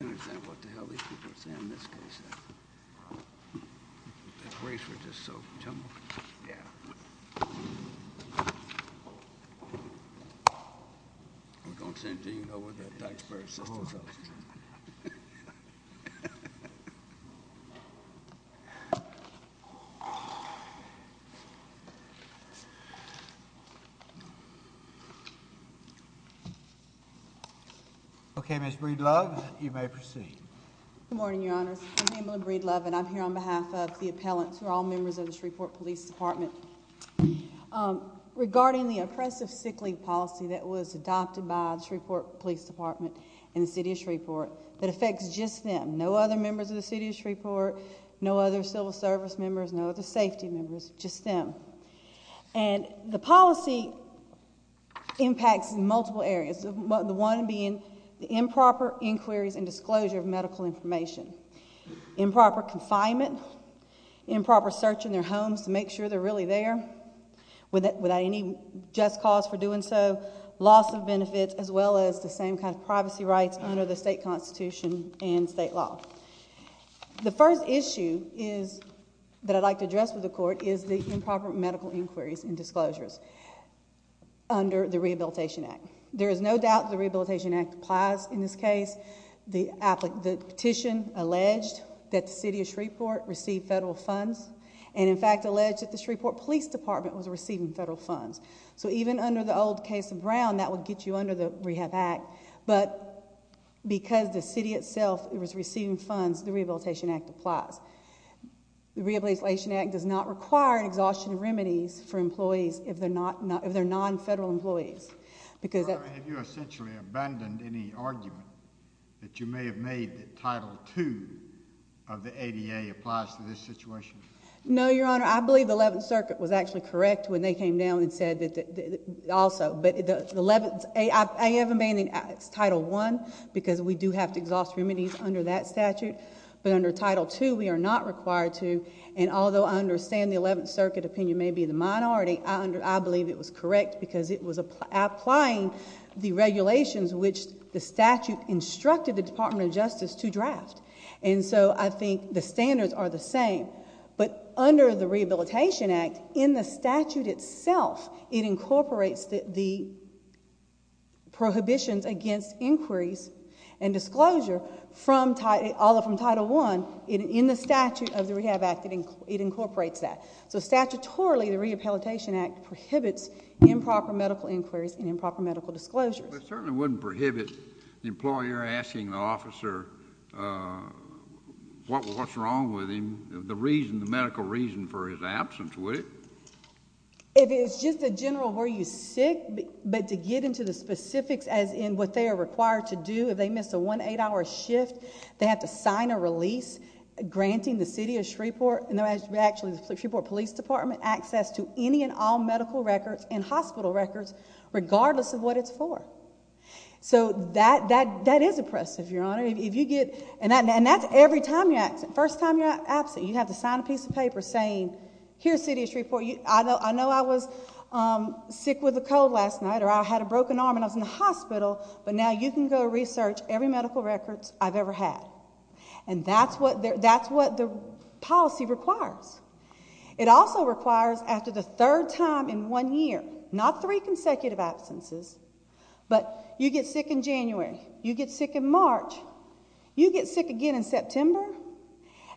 I don't understand what the hell these people are saying in this case. That race was just so jumbled. Yeah. We don't seem to even know where the taxpayer's assistance is. Okay, Ms. Breedlove, you may proceed. Good morning, Your Honors. I'm Pamela Breedlove, and I'm here on behalf of the appellants, who are all members of the Shreveport Police Department. Regarding the oppressive sick leave policy that was adopted by the Shreveport Police Department and the City of Shreveport, that affects just them, no other members of the City of Shreveport, no other civil service members, no other safety members, just them. And the policy impacts multiple areas, the one being the improper inquiries and disclosure of medical information, improper confinement, improper search in their homes to make sure they're really there without any just cause for doing so, loss of benefits, as well as the same kind of privacy rights under the state constitution and state law. The first issue that I'd like to address with the Court is the improper medical inquiries and disclosures under the Rehabilitation Act. There is no doubt the Rehabilitation Act applies in this case. The petition alleged that the City of Shreveport received federal funds, and in fact alleged that the Shreveport Police Department was receiving federal funds. So even under the old case of Brown, that would get you under the Rehab Act, but because the city itself was receiving funds, the Rehabilitation Act applies. The Rehabilitation Act does not require an exhaustion of remedies for employees if they're non-federal employees. Have you essentially abandoned any argument that you may have made that Title II of the ADA applies to this situation? No, Your Honor. I believe the Eleventh Circuit was actually correct when they came down and said that also. I haven't abandoned Title I because we do have to exhaust remedies under that statute, but under Title II we are not required to. And although I understand the Eleventh Circuit opinion may be the minority, I believe it was correct because it was applying the regulations which the statute instructed the Department of Justice to draft. And so I think the standards are the same. But under the Rehabilitation Act, in the statute itself, it incorporates the prohibitions against inquiries and disclosure from Title I. In the statute of the Rehab Act, it incorporates that. So statutorily, the Rehabilitation Act prohibits improper medical inquiries and improper medical disclosures. But it certainly wouldn't prohibit the employer asking the officer what's wrong with him, the reason, the medical reason for his absence, would it? If it's just a general, were you sick, but to get into the specifics as in what they are required to do, if they miss a one-eight-hour shift, they have to sign a release granting the City of Shreveport, actually the Shreveport Police Department, access to any and all medical records and hospital records regardless of what it's for. So that is oppressive, Your Honor. And that's every time you're absent. First time you're absent, you have to sign a piece of paper saying, here's City of Shreveport. I know I was sick with a cold last night or I had a broken arm and I was in the hospital, but now you can go research every medical record I've ever had. And that's what the policy requires. It also requires after the third time in one year, not three consecutive absences, but you get sick in January, you get sick in March, you get sick again in September,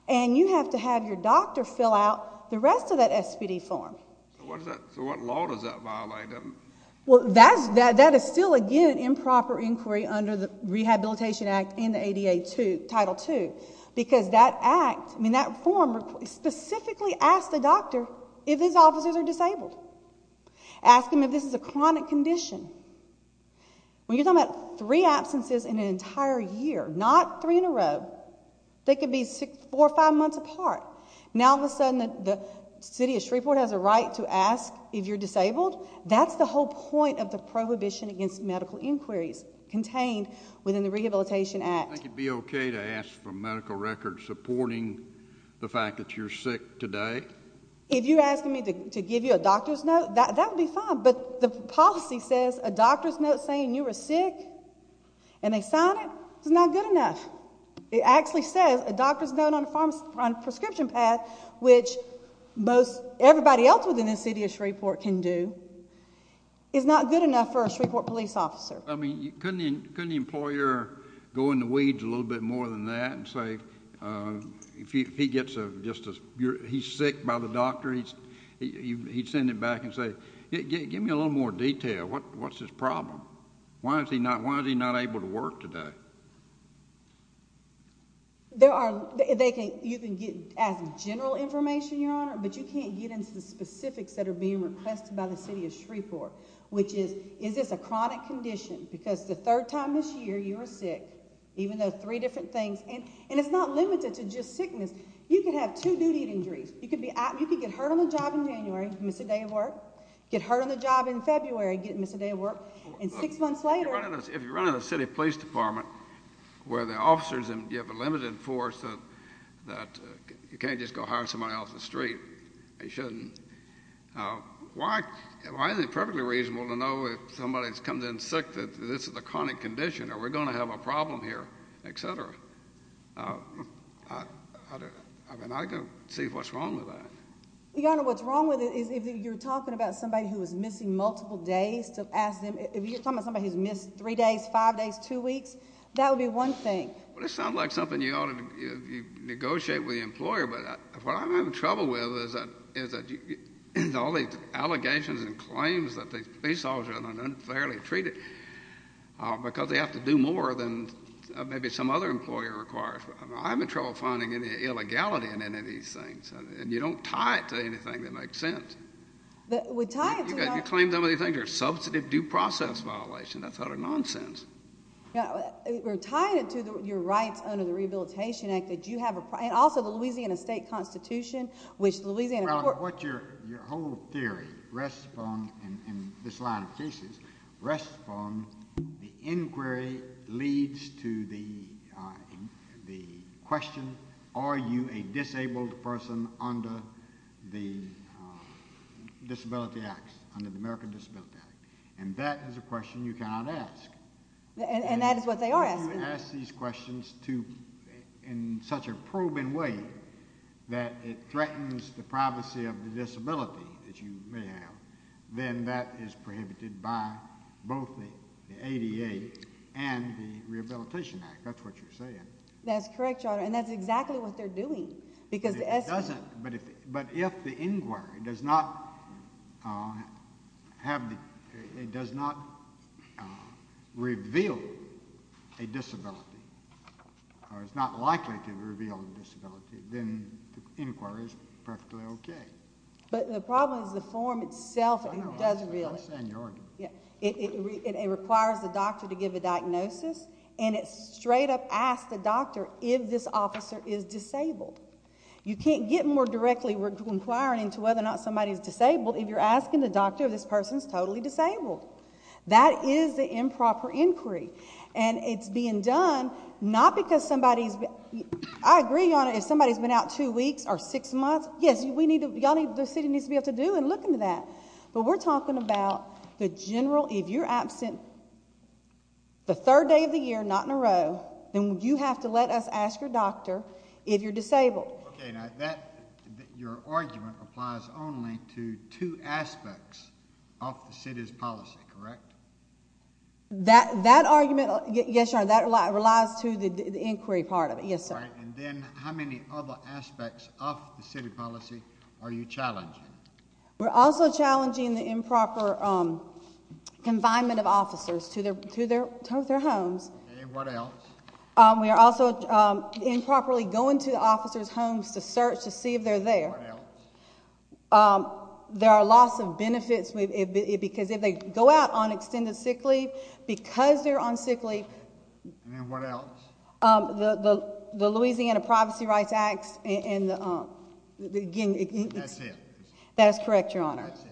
and you have to have your doctor fill out the rest of that SPD form. So what law does that violate? Well, that is still, again, improper inquiry under the Rehabilitation Act and the ADA Title II because that act, I mean that form specifically asks the doctor if his officers are disabled, asking them if this is a chronic condition. When you're talking about three absences in an entire year, not three in a row, they could be four or five months apart. Now all of a sudden the City of Shreveport has a right to ask if you're disabled? That's the whole point of the prohibition against medical inquiries contained within the Rehabilitation Act. Would it be okay to ask for medical records supporting the fact that you're sick today? If you're asking me to give you a doctor's note, that would be fine, but the policy says a doctor's note saying you were sick and they sign it is not good enough. It actually says a doctor's note on a prescription pad, which everybody else within the City of Shreveport can do, is not good enough for a Shreveport police officer. Couldn't the employer go in the weeds a little bit more than that and say, if he gets sick by the doctor, he'd send it back and say, give me a little more detail, what's his problem? Why is he not able to work today? You can get as general information, Your Honor, but you can't get into the specifics that are being requested by the City of Shreveport, which is, is this a chronic condition? Because the third time this year you were sick, even though three different things, and it's not limited to just sickness. You could have two duty injuries. You could get hurt on the job in January, miss a day of work, get hurt on the job in February, miss a day of work, and six months later. If you're running a city police department where the officers, you have a limited force that you can't just go hire somebody off the street. You shouldn't. Why is it perfectly reasonable to know if somebody comes in sick that this is a chronic condition, or we're going to have a problem here, et cetera? I mean, I can see what's wrong with that. Your Honor, what's wrong with it is if you're talking about somebody who is missing multiple days, to ask them, if you're talking about somebody who's missed three days, five days, two weeks, that would be one thing. Well, it sounds like something you ought to negotiate with the employer, but what I'm having trouble with is that all these allegations and claims that these police officers are unfairly treated because they have to do more than maybe some other employer requires. I'm having trouble finding any illegality in any of these things, and you don't tie it to anything that makes sense. You claim so many things are substantive due process violations. That's utter nonsense. We're tying it to your rights under the Rehabilitation Act that you have, and also the Louisiana state constitution, which the Louisiana court. Your whole theory rests upon, in this line of cases, rests upon the inquiry leads to the question, are you a disabled person under the Disability Act, under the American Disability Act? And that is a question you cannot ask. And that is what they are asking. If you ask these questions in such a probing way that it threatens the privacy of the disability that you may have, then that is prohibited by both the ADA and the Rehabilitation Act. That's what you're saying. That's correct, Your Honor, and that's exactly what they're doing. But if the inquiry does not reveal a disability, or is not likely to reveal a disability, then the inquiry is perfectly okay. But the problem is the form itself doesn't really. It requires the doctor to give a diagnosis, and it straight up asks the doctor if this officer is disabled. You can't get more directly inquiring into whether or not somebody is disabled if you're asking the doctor if this person is totally disabled. That is the improper inquiry. And it's being done not because somebody's... I agree, Your Honor, if somebody's been out two weeks or six months, yes, the city needs to be able to do and look into that. But we're talking about the general... If you're absent the third day of the year, not in a row, then you have to let us ask your doctor if you're disabled. Okay, now, your argument applies only to two aspects of the city's policy, correct? That argument, yes, Your Honor, that relies to the inquiry part of it, yes, sir. All right, and then how many other aspects of the city policy are you challenging? We're also challenging the improper confinement of officers to their homes. And what else? We are also improperly going to the officers' homes to search to see if they're there. What else? There are loss of benefits because if they go out on extended sick leave, because they're on sick leave... And what else? The Louisiana Privacy Rights Act and the... That's it. That is correct, Your Honor. That's it.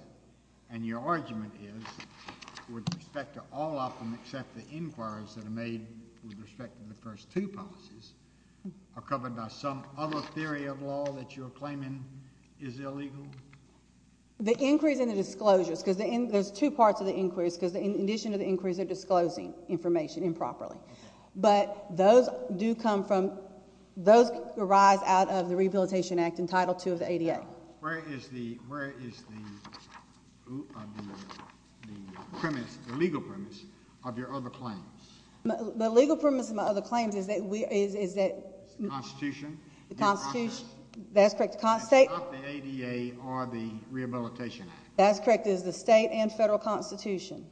And your argument is with respect to all of them except the inquiries that are made with respect to the first two policies are covered by some other theory of law that you're claiming is illegal? The inquiries and the disclosures, because there's two parts of the inquiries, because in addition to the inquiries, they're disclosing information improperly. But those arise out of the Rehabilitation Act and Title II of the ADA. Where is the legal premise of your other claims? The legal premise of my other claims is that we... The Constitution? The Constitution, that's correct. And not the ADA or the Rehabilitation Act? That's correct. It is the state and federal Constitution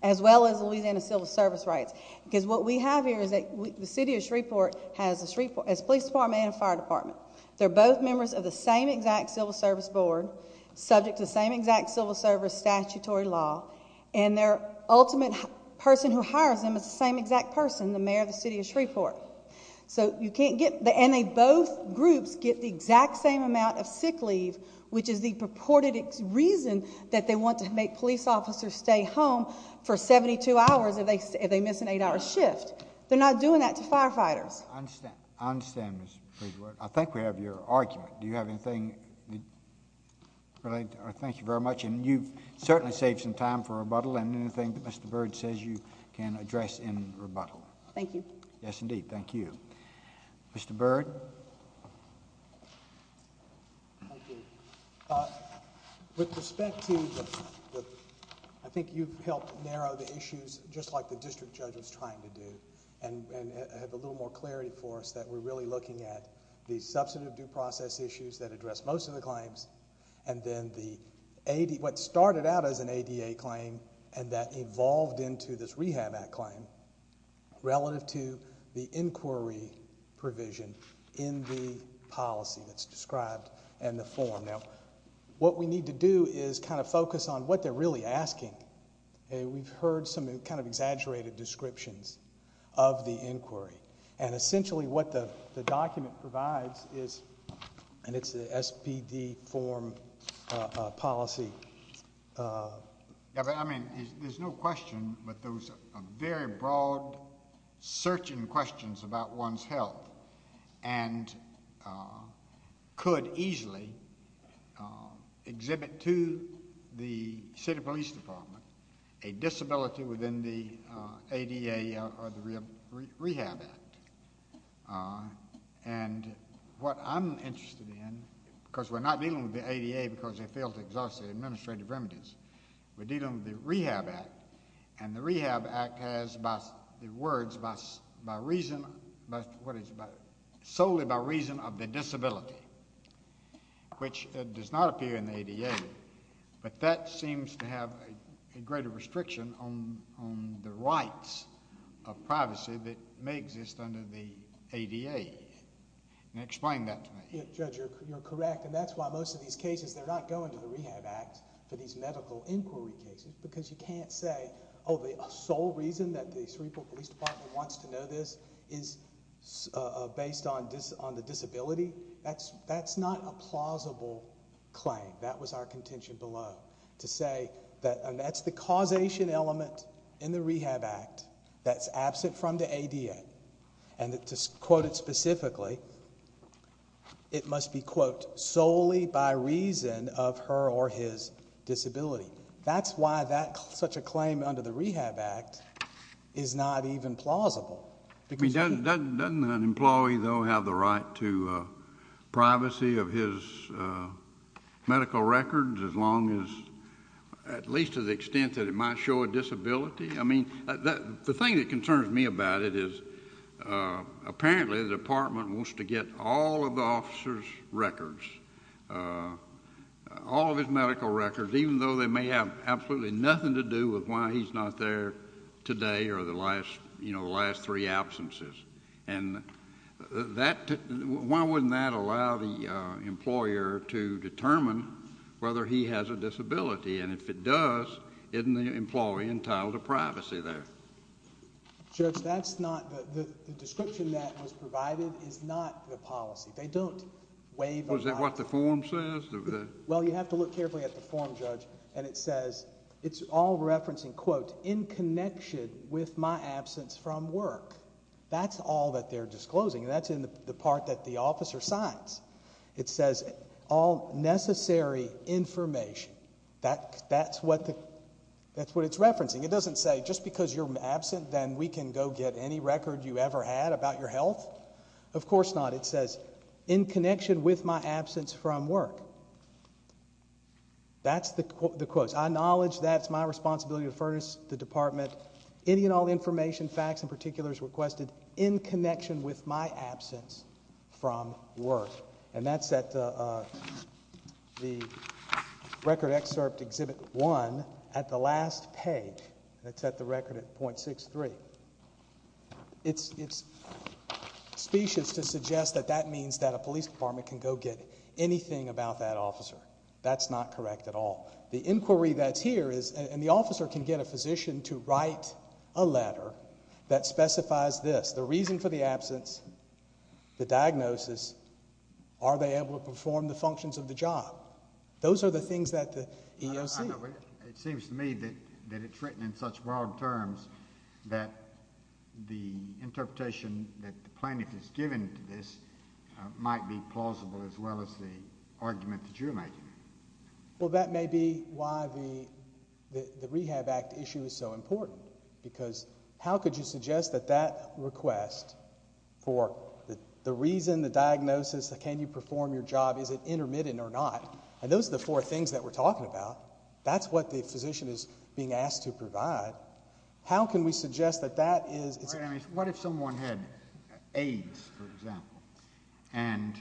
as well as the Louisiana Civil Service Rights. Because what we have here is that the city of Shreveport has a police department and a fire department. They're both members of the same exact civil service board, subject to the same exact civil service statutory law, and their ultimate person who hires them is the same exact person, the mayor of the city of Shreveport. So you can't get... And both groups get the exact same amount of sick leave, which is the purported reason that they want to make police officers stay home for 72 hours if they miss an 8-hour shift. They're not doing that to firefighters. I understand, Ms. Bridgeworth. I think we have your argument. Do you have anything related? Thank you very much. And you've certainly saved some time for rebuttal, and anything that Mr. Byrd says you can address in rebuttal. Thank you. Yes, indeed. Thank you. Mr. Byrd? Thank you. With respect to the... I think you've helped narrow the issues just like the district judge was trying to do and have a little more clarity for us that we're really looking at the substantive due process issues that address most of the claims and then what started out as an ADA claim and that evolved into this Rehab Act claim relative to the inquiry provision in the policy that's described in the form. Now, what we need to do is kind of focus on what they're really asking. We've heard some kind of exaggerated descriptions of the inquiry, and essentially what the document provides is, and it's the SPD form policy. I mean, there's no question, but those are very broad searching questions about one's health and could easily exhibit to the city police department a disability within the ADA or the Rehab Act. And what I'm interested in, because we're not dealing with the ADA because they failed to exhaust the administrative remedies. We're dealing with the Rehab Act, and the Rehab Act has the words solely by reason of the disability, which does not appear in the ADA, but that seems to have a greater restriction on the rights of privacy Explain that to me. Judge, you're correct. And that's why most of these cases, they're not going to the Rehab Act for these medical inquiry cases because you can't say, oh, the sole reason that the Cerebral Police Department wants to know this is based on the disability. That's not a plausible claim. That was our contention below, to say that that's the causation element in the Rehab Act that's absent from the ADA. And to quote it specifically, it must be, quote, solely by reason of her or his disability. That's why such a claim under the Rehab Act is not even plausible. Doesn't an employee, though, have the right to privacy of his medical records as long as, at least to the extent that it might show a disability? I mean, the thing that concerns me about it is apparently the department wants to get all of the officer's records, all of his medical records, even though they may have absolutely nothing to do with why he's not there today or the last three absences. And why wouldn't that allow the employer to determine whether he has a disability? And if it does, isn't the employee entitled to privacy there? Judge, that's not the description that was provided is not the policy. They don't waive a policy. Well, is that what the form says? Well, you have to look carefully at the form, Judge, and it says it's all referencing, quote, in connection with my absence from work. That's all that they're disclosing, and that's in the part that the officer signs. It says all necessary information. That's what it's referencing. It doesn't say just because you're absent, then we can go get any record you ever had about your health. Of course not. It says in connection with my absence from work. That's the quote. I acknowledge that's my responsibility to furnish the department any and all information, facts, and particulars requested in connection with my absence from work. And that's at the record excerpt, Exhibit 1, at the last page. That's at the record at .63. It's specious to suggest that that means that a police department can go get anything about that officer. That's not correct at all. The inquiry that's here is, and the officer can get a physician to write a letter that specifies this. The reason for the absence, the diagnosis, are they able to perform the functions of the job? Those are the things that the EOC. It seems to me that it's written in such broad terms that the interpretation that the plaintiff has given to this might be plausible as well as the argument that you're making. Well, that may be why the Rehab Act issue is so important because how could you suggest that that request for the reason, the diagnosis, can you perform your job, is it intermittent or not? And those are the four things that we're talking about. That's what the physician is being asked to provide. How can we suggest that that is... What if someone had AIDS, for example, and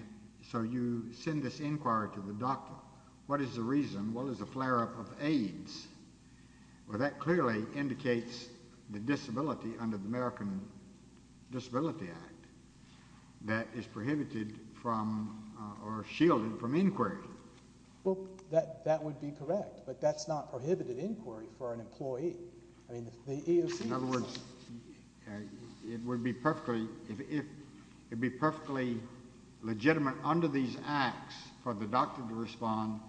so you send this inquiry to the doctor, what is the reason, what is the flare-up of AIDS? Well, that clearly indicates the disability under the American Disability Act that is prohibited from or shielded from inquiry. Well, that would be correct, but that's not prohibited inquiry for an employee. In other words, it would be perfectly... It would be perfectly legitimate under these acts for the doctor to respond,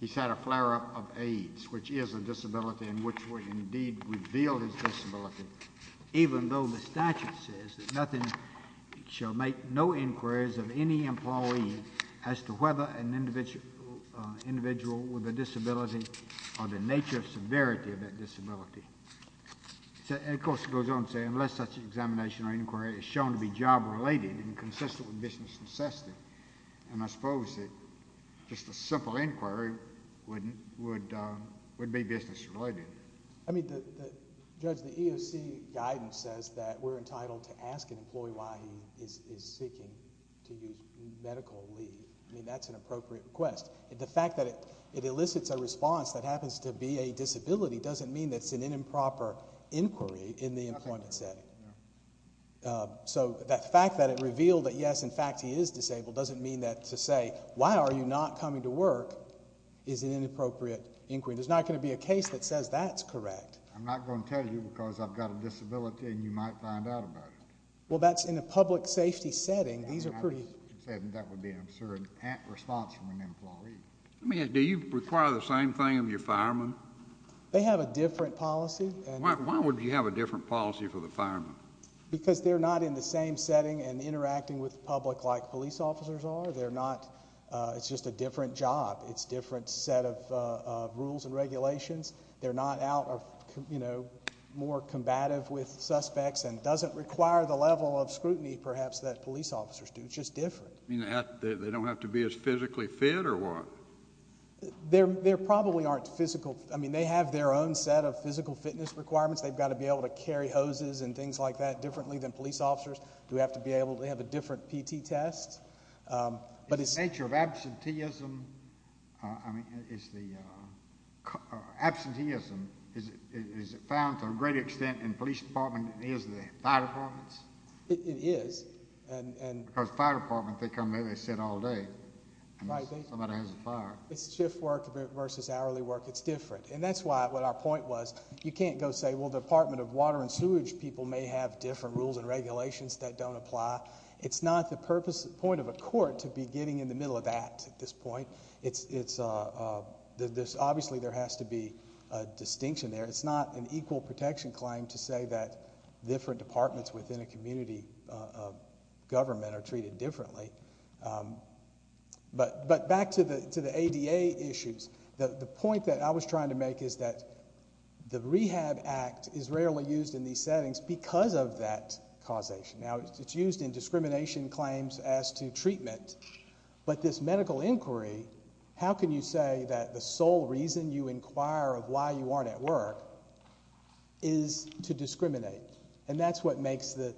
he's had a flare-up of AIDS, which is a disability in which we indeed reveal his disability. Even though the statute says that nothing shall make no inquiries of any employee as to whether an individual with a disability or the nature of severity of that disability. And, of course, it goes on to say unless such an examination or inquiry is shown to be job-related and consistent with business necessity. And I suppose that just a simple inquiry would be business-related. I mean, Judge, the EOC guidance says that we're entitled to ask an employee why he is seeking to use medical leave. I mean, that's an appropriate request. The fact that it elicits a response that happens to be a disability doesn't mean that it's an improper inquiry in the employment setting. So that fact that it revealed that, yes, in fact, he is disabled doesn't mean that to say, why are you not coming to work is an inappropriate inquiry. There's not going to be a case that says that's correct. I'm not going to tell you because I've got a disability and you might find out about it. Well, that's in a public safety setting. That would be an absurd response from an employee. Do you require the same thing of your firemen? They have a different policy. Why would you have a different policy for the firemen? Because they're not in the same setting and interacting with the public like police officers are. It's just a different job. It's a different set of rules and regulations. and doesn't require the level of scrutiny, perhaps, that police officers do. It's just different. They don't have to be as physically fit or what? They probably aren't physical. I mean, they have their own set of physical fitness requirements. They've got to be able to carry hoses and things like that differently than police officers do have to be able to. They have a different PT test. The nature of absenteeism, I mean, is the... Absenteeism is found to a great extent in police departments than it is in the fire departments. It is. Because fire departments, they come in, they sit all day. Somebody has a fire. It's shift work versus hourly work. It's different. And that's what our point was. You can't go say, well, the Department of Water and Sewage people may have different rules and regulations that don't apply. It's not the point of a court to be getting in the middle of that at this point. Obviously, there has to be a distinction there. It's not an equal protection claim to say that different departments within a community government are treated differently. But back to the ADA issues. The point that I was trying to make is that the Rehab Act is rarely used in these settings because of that causation. Now, it's used in discrimination claims as to treatment. But this medical inquiry, how can you say that the sole reason you inquire of why you aren't at work is to discriminate? And that's what makes the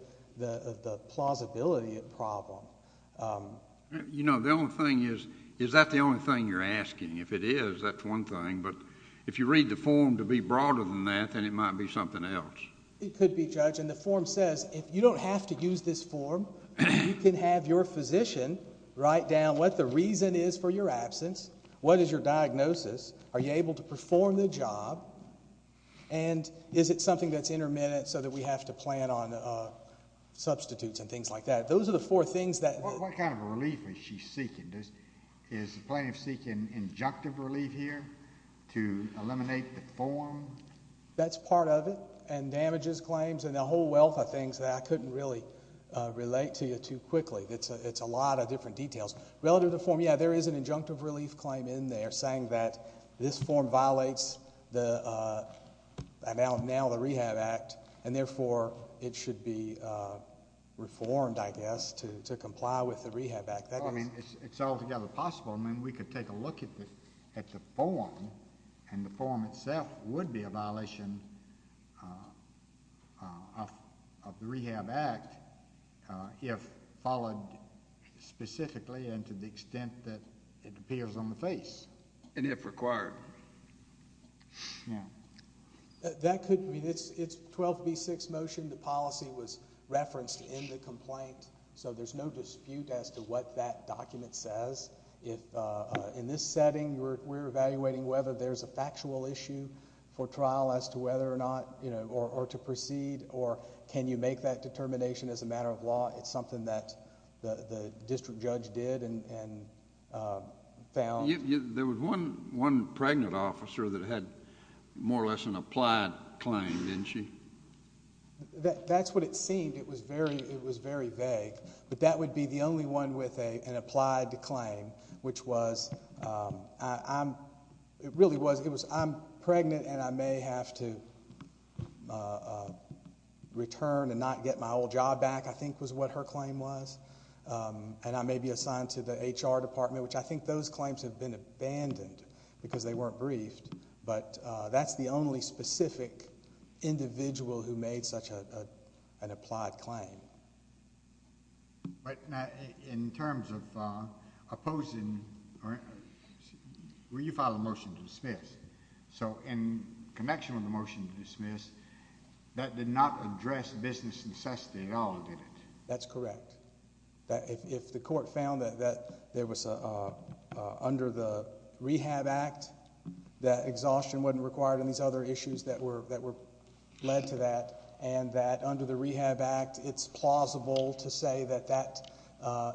plausibility a problem. You know, the only thing is, is that the only thing you're asking? If it is, that's one thing. But if you read the form to be broader than that, then it might be something else. It could be, Judge. And the form says if you don't have to use this form, you can have your physician write down what the reason is for your absence, what is your diagnosis, are you able to perform the job, and is it something that's intermittent so that we have to plan on substitutes and things like that. Those are the four things that... What kind of relief is she seeking? Is the plaintiff seeking injunctive relief here to eliminate the form? That's part of it. And damages claims and a whole wealth of things that I couldn't really relate to you too quickly. It's a lot of different details. Relative to the form, yeah, there is an injunctive relief claim in there saying that this form violates now the Rehab Act, and therefore it should be reformed, I guess, to comply with the Rehab Act. It's altogether possible. I mean, we could take a look at the form, and the form itself would be a violation of the Rehab Act if followed specifically and to the extent that it appears on the face. And if required. That could be. It's 12B6 motion, the policy was referenced in the complaint, so there's no dispute as to what that document says. In this setting, we're evaluating whether there's a factual issue for trial as to whether or not, or to proceed, or can you make that determination as a matter of law. It's something that the district judge did and found. There was one pregnant officer that had more or less an applied claim, didn't she? That's what it seemed. It was very vague. But that would be the only one with an applied claim, which was, I'm pregnant and I may have to return and not get my old job back, I think was what her claim was. And I may be assigned to the HR department, which I think those claims have been abandoned because they weren't briefed. But that's the only specific individual who made such an applied claim. In terms of opposing, you filed a motion to dismiss. So in connection with the motion to dismiss, that did not address business necessity at all, did it? That's correct. If the court found that there was, under the Rehab Act, that exhaustion wasn't required on these other issues that were led to that, and that under the Rehab Act it's plausible to say that that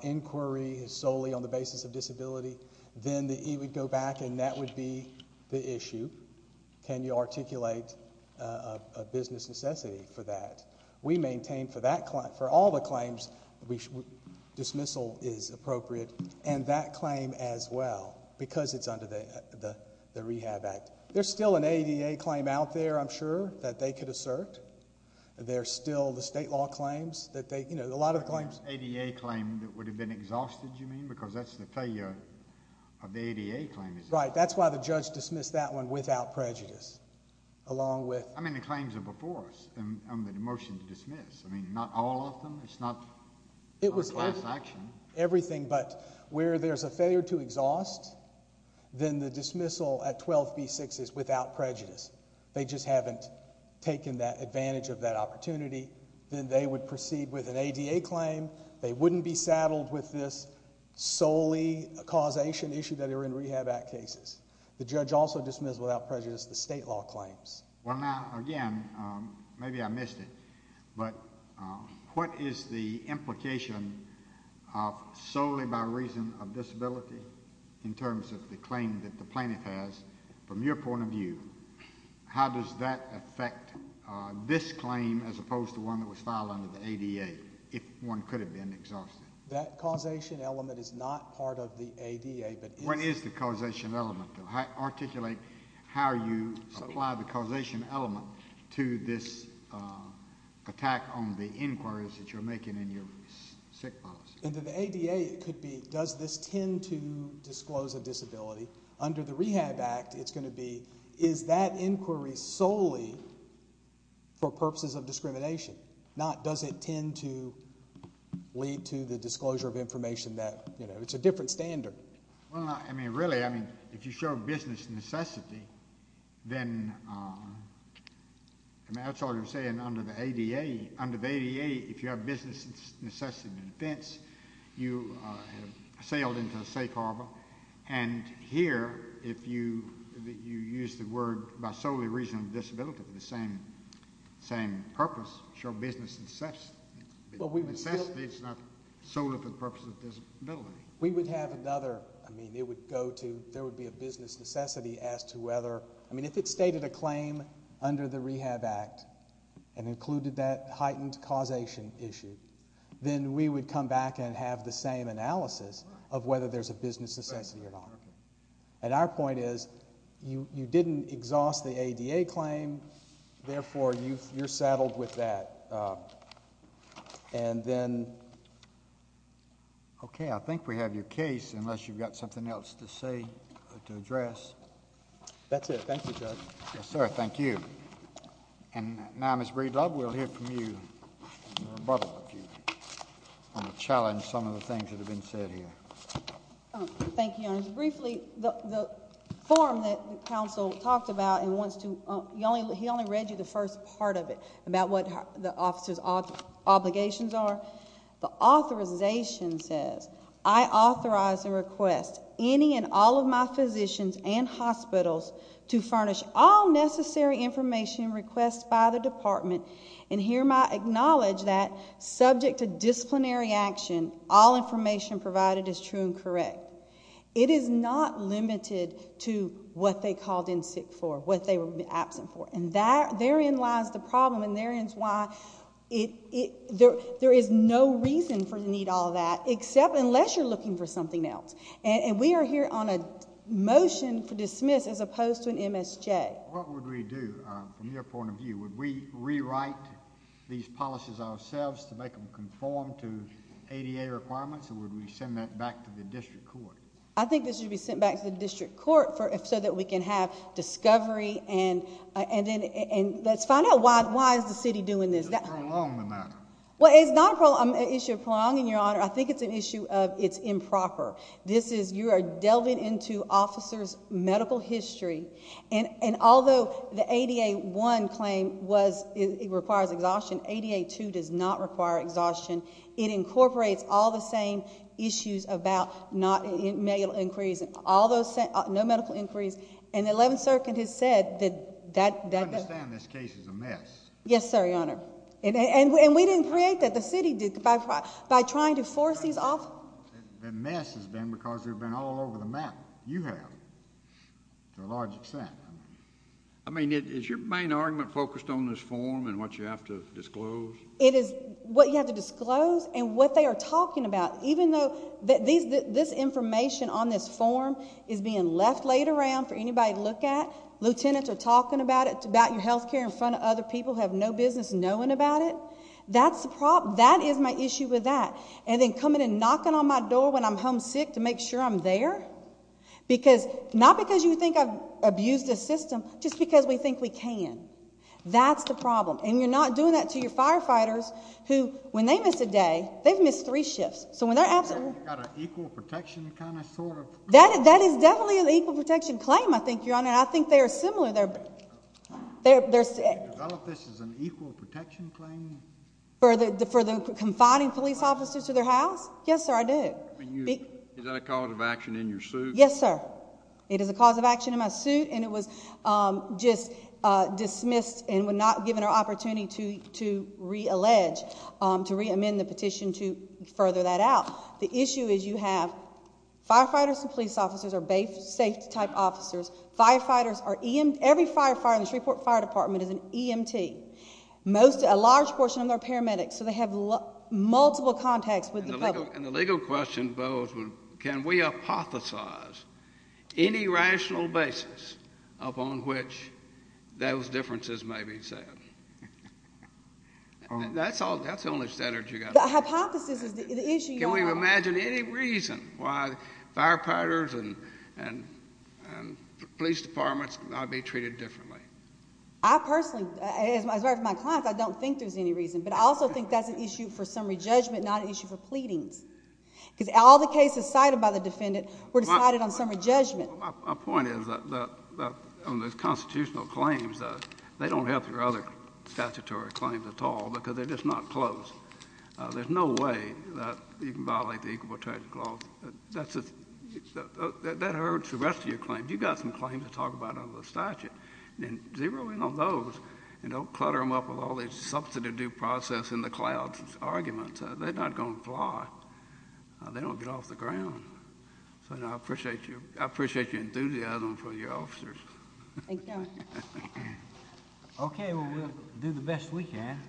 inquiry is solely on the basis of disability, then the E would go back and that would be the issue. Can you articulate a business necessity for that? We maintain for all the claims dismissal is appropriate, and that claim as well, because it's under the Rehab Act. There's still an ADA claim out there, I'm sure, that they could assert. There's still the state law claims that they, you know, a lot of the claims... ADA claim that would have been exhausted, you mean, because that's the failure of the ADA claim, is it? Right. That's why the judge dismissed that one without prejudice, along with... I mean, the claims are before us under the motion to dismiss. I mean, not all of them. Everything, but where there's a failure to exhaust, then the dismissal at 12B6 is without prejudice. They just haven't taken advantage of that opportunity. Then they would proceed with an ADA claim. They wouldn't be saddled with this solely causation issue that are in Rehab Act cases. The judge also dismissed without prejudice the state law claims. Well, now, again, maybe I missed it, but what is the implication of solely by reason of disability, in terms of the claim that the plaintiff has, from your point of view, how does that affect this claim as opposed to one that was filed under the ADA, if one could have been exhausted? That causation element is not part of the ADA, but is... What is the causation element, though? How do you apply the causation element to this attack on the inquiries that you're making in your sick policy? Under the ADA, it could be, does this tend to disclose a disability? Under the Rehab Act, it's going to be, is that inquiry solely for purposes of discrimination, not does it tend to lead to the disclosure of information that... It's a different standard. Well, I mean, really, I mean, if you show business necessity, then that's all you're saying under the ADA. Under the ADA, if you have business necessity in defense, you have sailed into a safe harbor, and here if you use the word by solely reason of disability for the same purpose, show business necessity, it's not solely for the purpose of disability. We would have another, I mean, it would go to, there would be a business necessity as to whether, I mean, if it stated a claim under the Rehab Act and included that heightened causation issue, then we would come back and have the same analysis of whether there's a business necessity or not. And our point is, you didn't exhaust the ADA claim, therefore you're settled with that. And then... Okay, I think we have your case unless you've got something else to say, to address. That's it. Thank you, Judge. Yes, sir. Thank you. And now, Ms. Breedlove, we'll hear from you, a rebuttal of you, on the challenge, some of the things that have been said here. Thank you, Your Honor. Briefly, the form that the counsel talked about and wants to, he only read you the first part of it, about what the officer's obligations are. The authorization says, I authorize and request any and all of my physicians and hospitals to furnish all necessary information requested by the department, and hereby acknowledge that, subject to disciplinary action, all information provided is true and correct. It is not limited to what they called in sick for, what they were absent for. And therein lies the problem, and therein is why there is no reason for you to need all that, except unless you're looking for something else. And we are here on a motion for dismiss as opposed to an MSJ. What would we do from your point of view? Would we rewrite these policies ourselves to make them conform to ADA requirements, or would we send that back to the district court? I think this should be sent back to the district court so that we can have discovery and let's find out why is the city doing this. It's not a problem. Well, it's not an issue of prolonging, Your Honor. I think it's an issue of it's improper. You are delving into officers' medical history, and although the ADA-1 claim requires exhaustion, ADA-2 does not require exhaustion. It incorporates all the same issues about male inquiries. No medical inquiries. And the 11th Circuit has said that that— I understand this case is a mess. Yes, sir, Your Honor. And we didn't create that. The city did by trying to force these off— The mess has been because they've been all over the map. You have, to a large extent. I mean, is your main argument focused on this form and what you have to disclose? It is what you have to disclose and what they are talking about. Even though this information on this form is being left laid around for anybody to look at, lieutenants are talking about it, about your health care in front of other people who have no business knowing about it, that is my issue with that. And then coming and knocking on my door when I'm homesick to make sure I'm there? Not because you think I've abused the system, just because we think we can. That's the problem. And you're not doing that to your firefighters who, when they miss a day, they've missed three shifts. You've got an equal protection kind of sort of— That is definitely an equal protection claim, I think, Your Honor. I think they are similar. You develop this as an equal protection claim? For the confining police officers to their house? Yes, sir, I do. Is that a cause of action in your suit? Yes, sir. It is a cause of action in my suit, and it was just dismissed and we're not given an opportunity to reallege, to reamend the petition to further that out. The issue is you have firefighters and police officers are safety type officers. Firefighters are—every firefighter in the Shreveport Fire Department is an EMT. A large portion of them are paramedics, so they have multiple contacts with the public. And the legal question posed was can we hypothesize any rational basis upon which those differences may be said? That's the only standard you've got. The hypothesis is the issue, Your Honor— Can we imagine any reason why firefighters and police departments might be treated differently? I personally, as far as my clients, I don't think there's any reason, but I also think that's an issue for summary judgment, not an issue for pleadings. Because all the cases cited by the defendant were decided on summary judgment. My point is on those constitutional claims, they don't help your other statutory claims at all because they're just not closed. There's no way that you can violate the Equal Protection Clause. That hurts the rest of your claims. You've got some claims to talk about under the statute. Zero in on those and don't clutter them up with all this substitute due process in the clouds arguments. They're not going to fly. They don't get off the ground. So I appreciate your enthusiasm for your officers. Thank you, Your Honor. Okay, well, we'll do the best we can.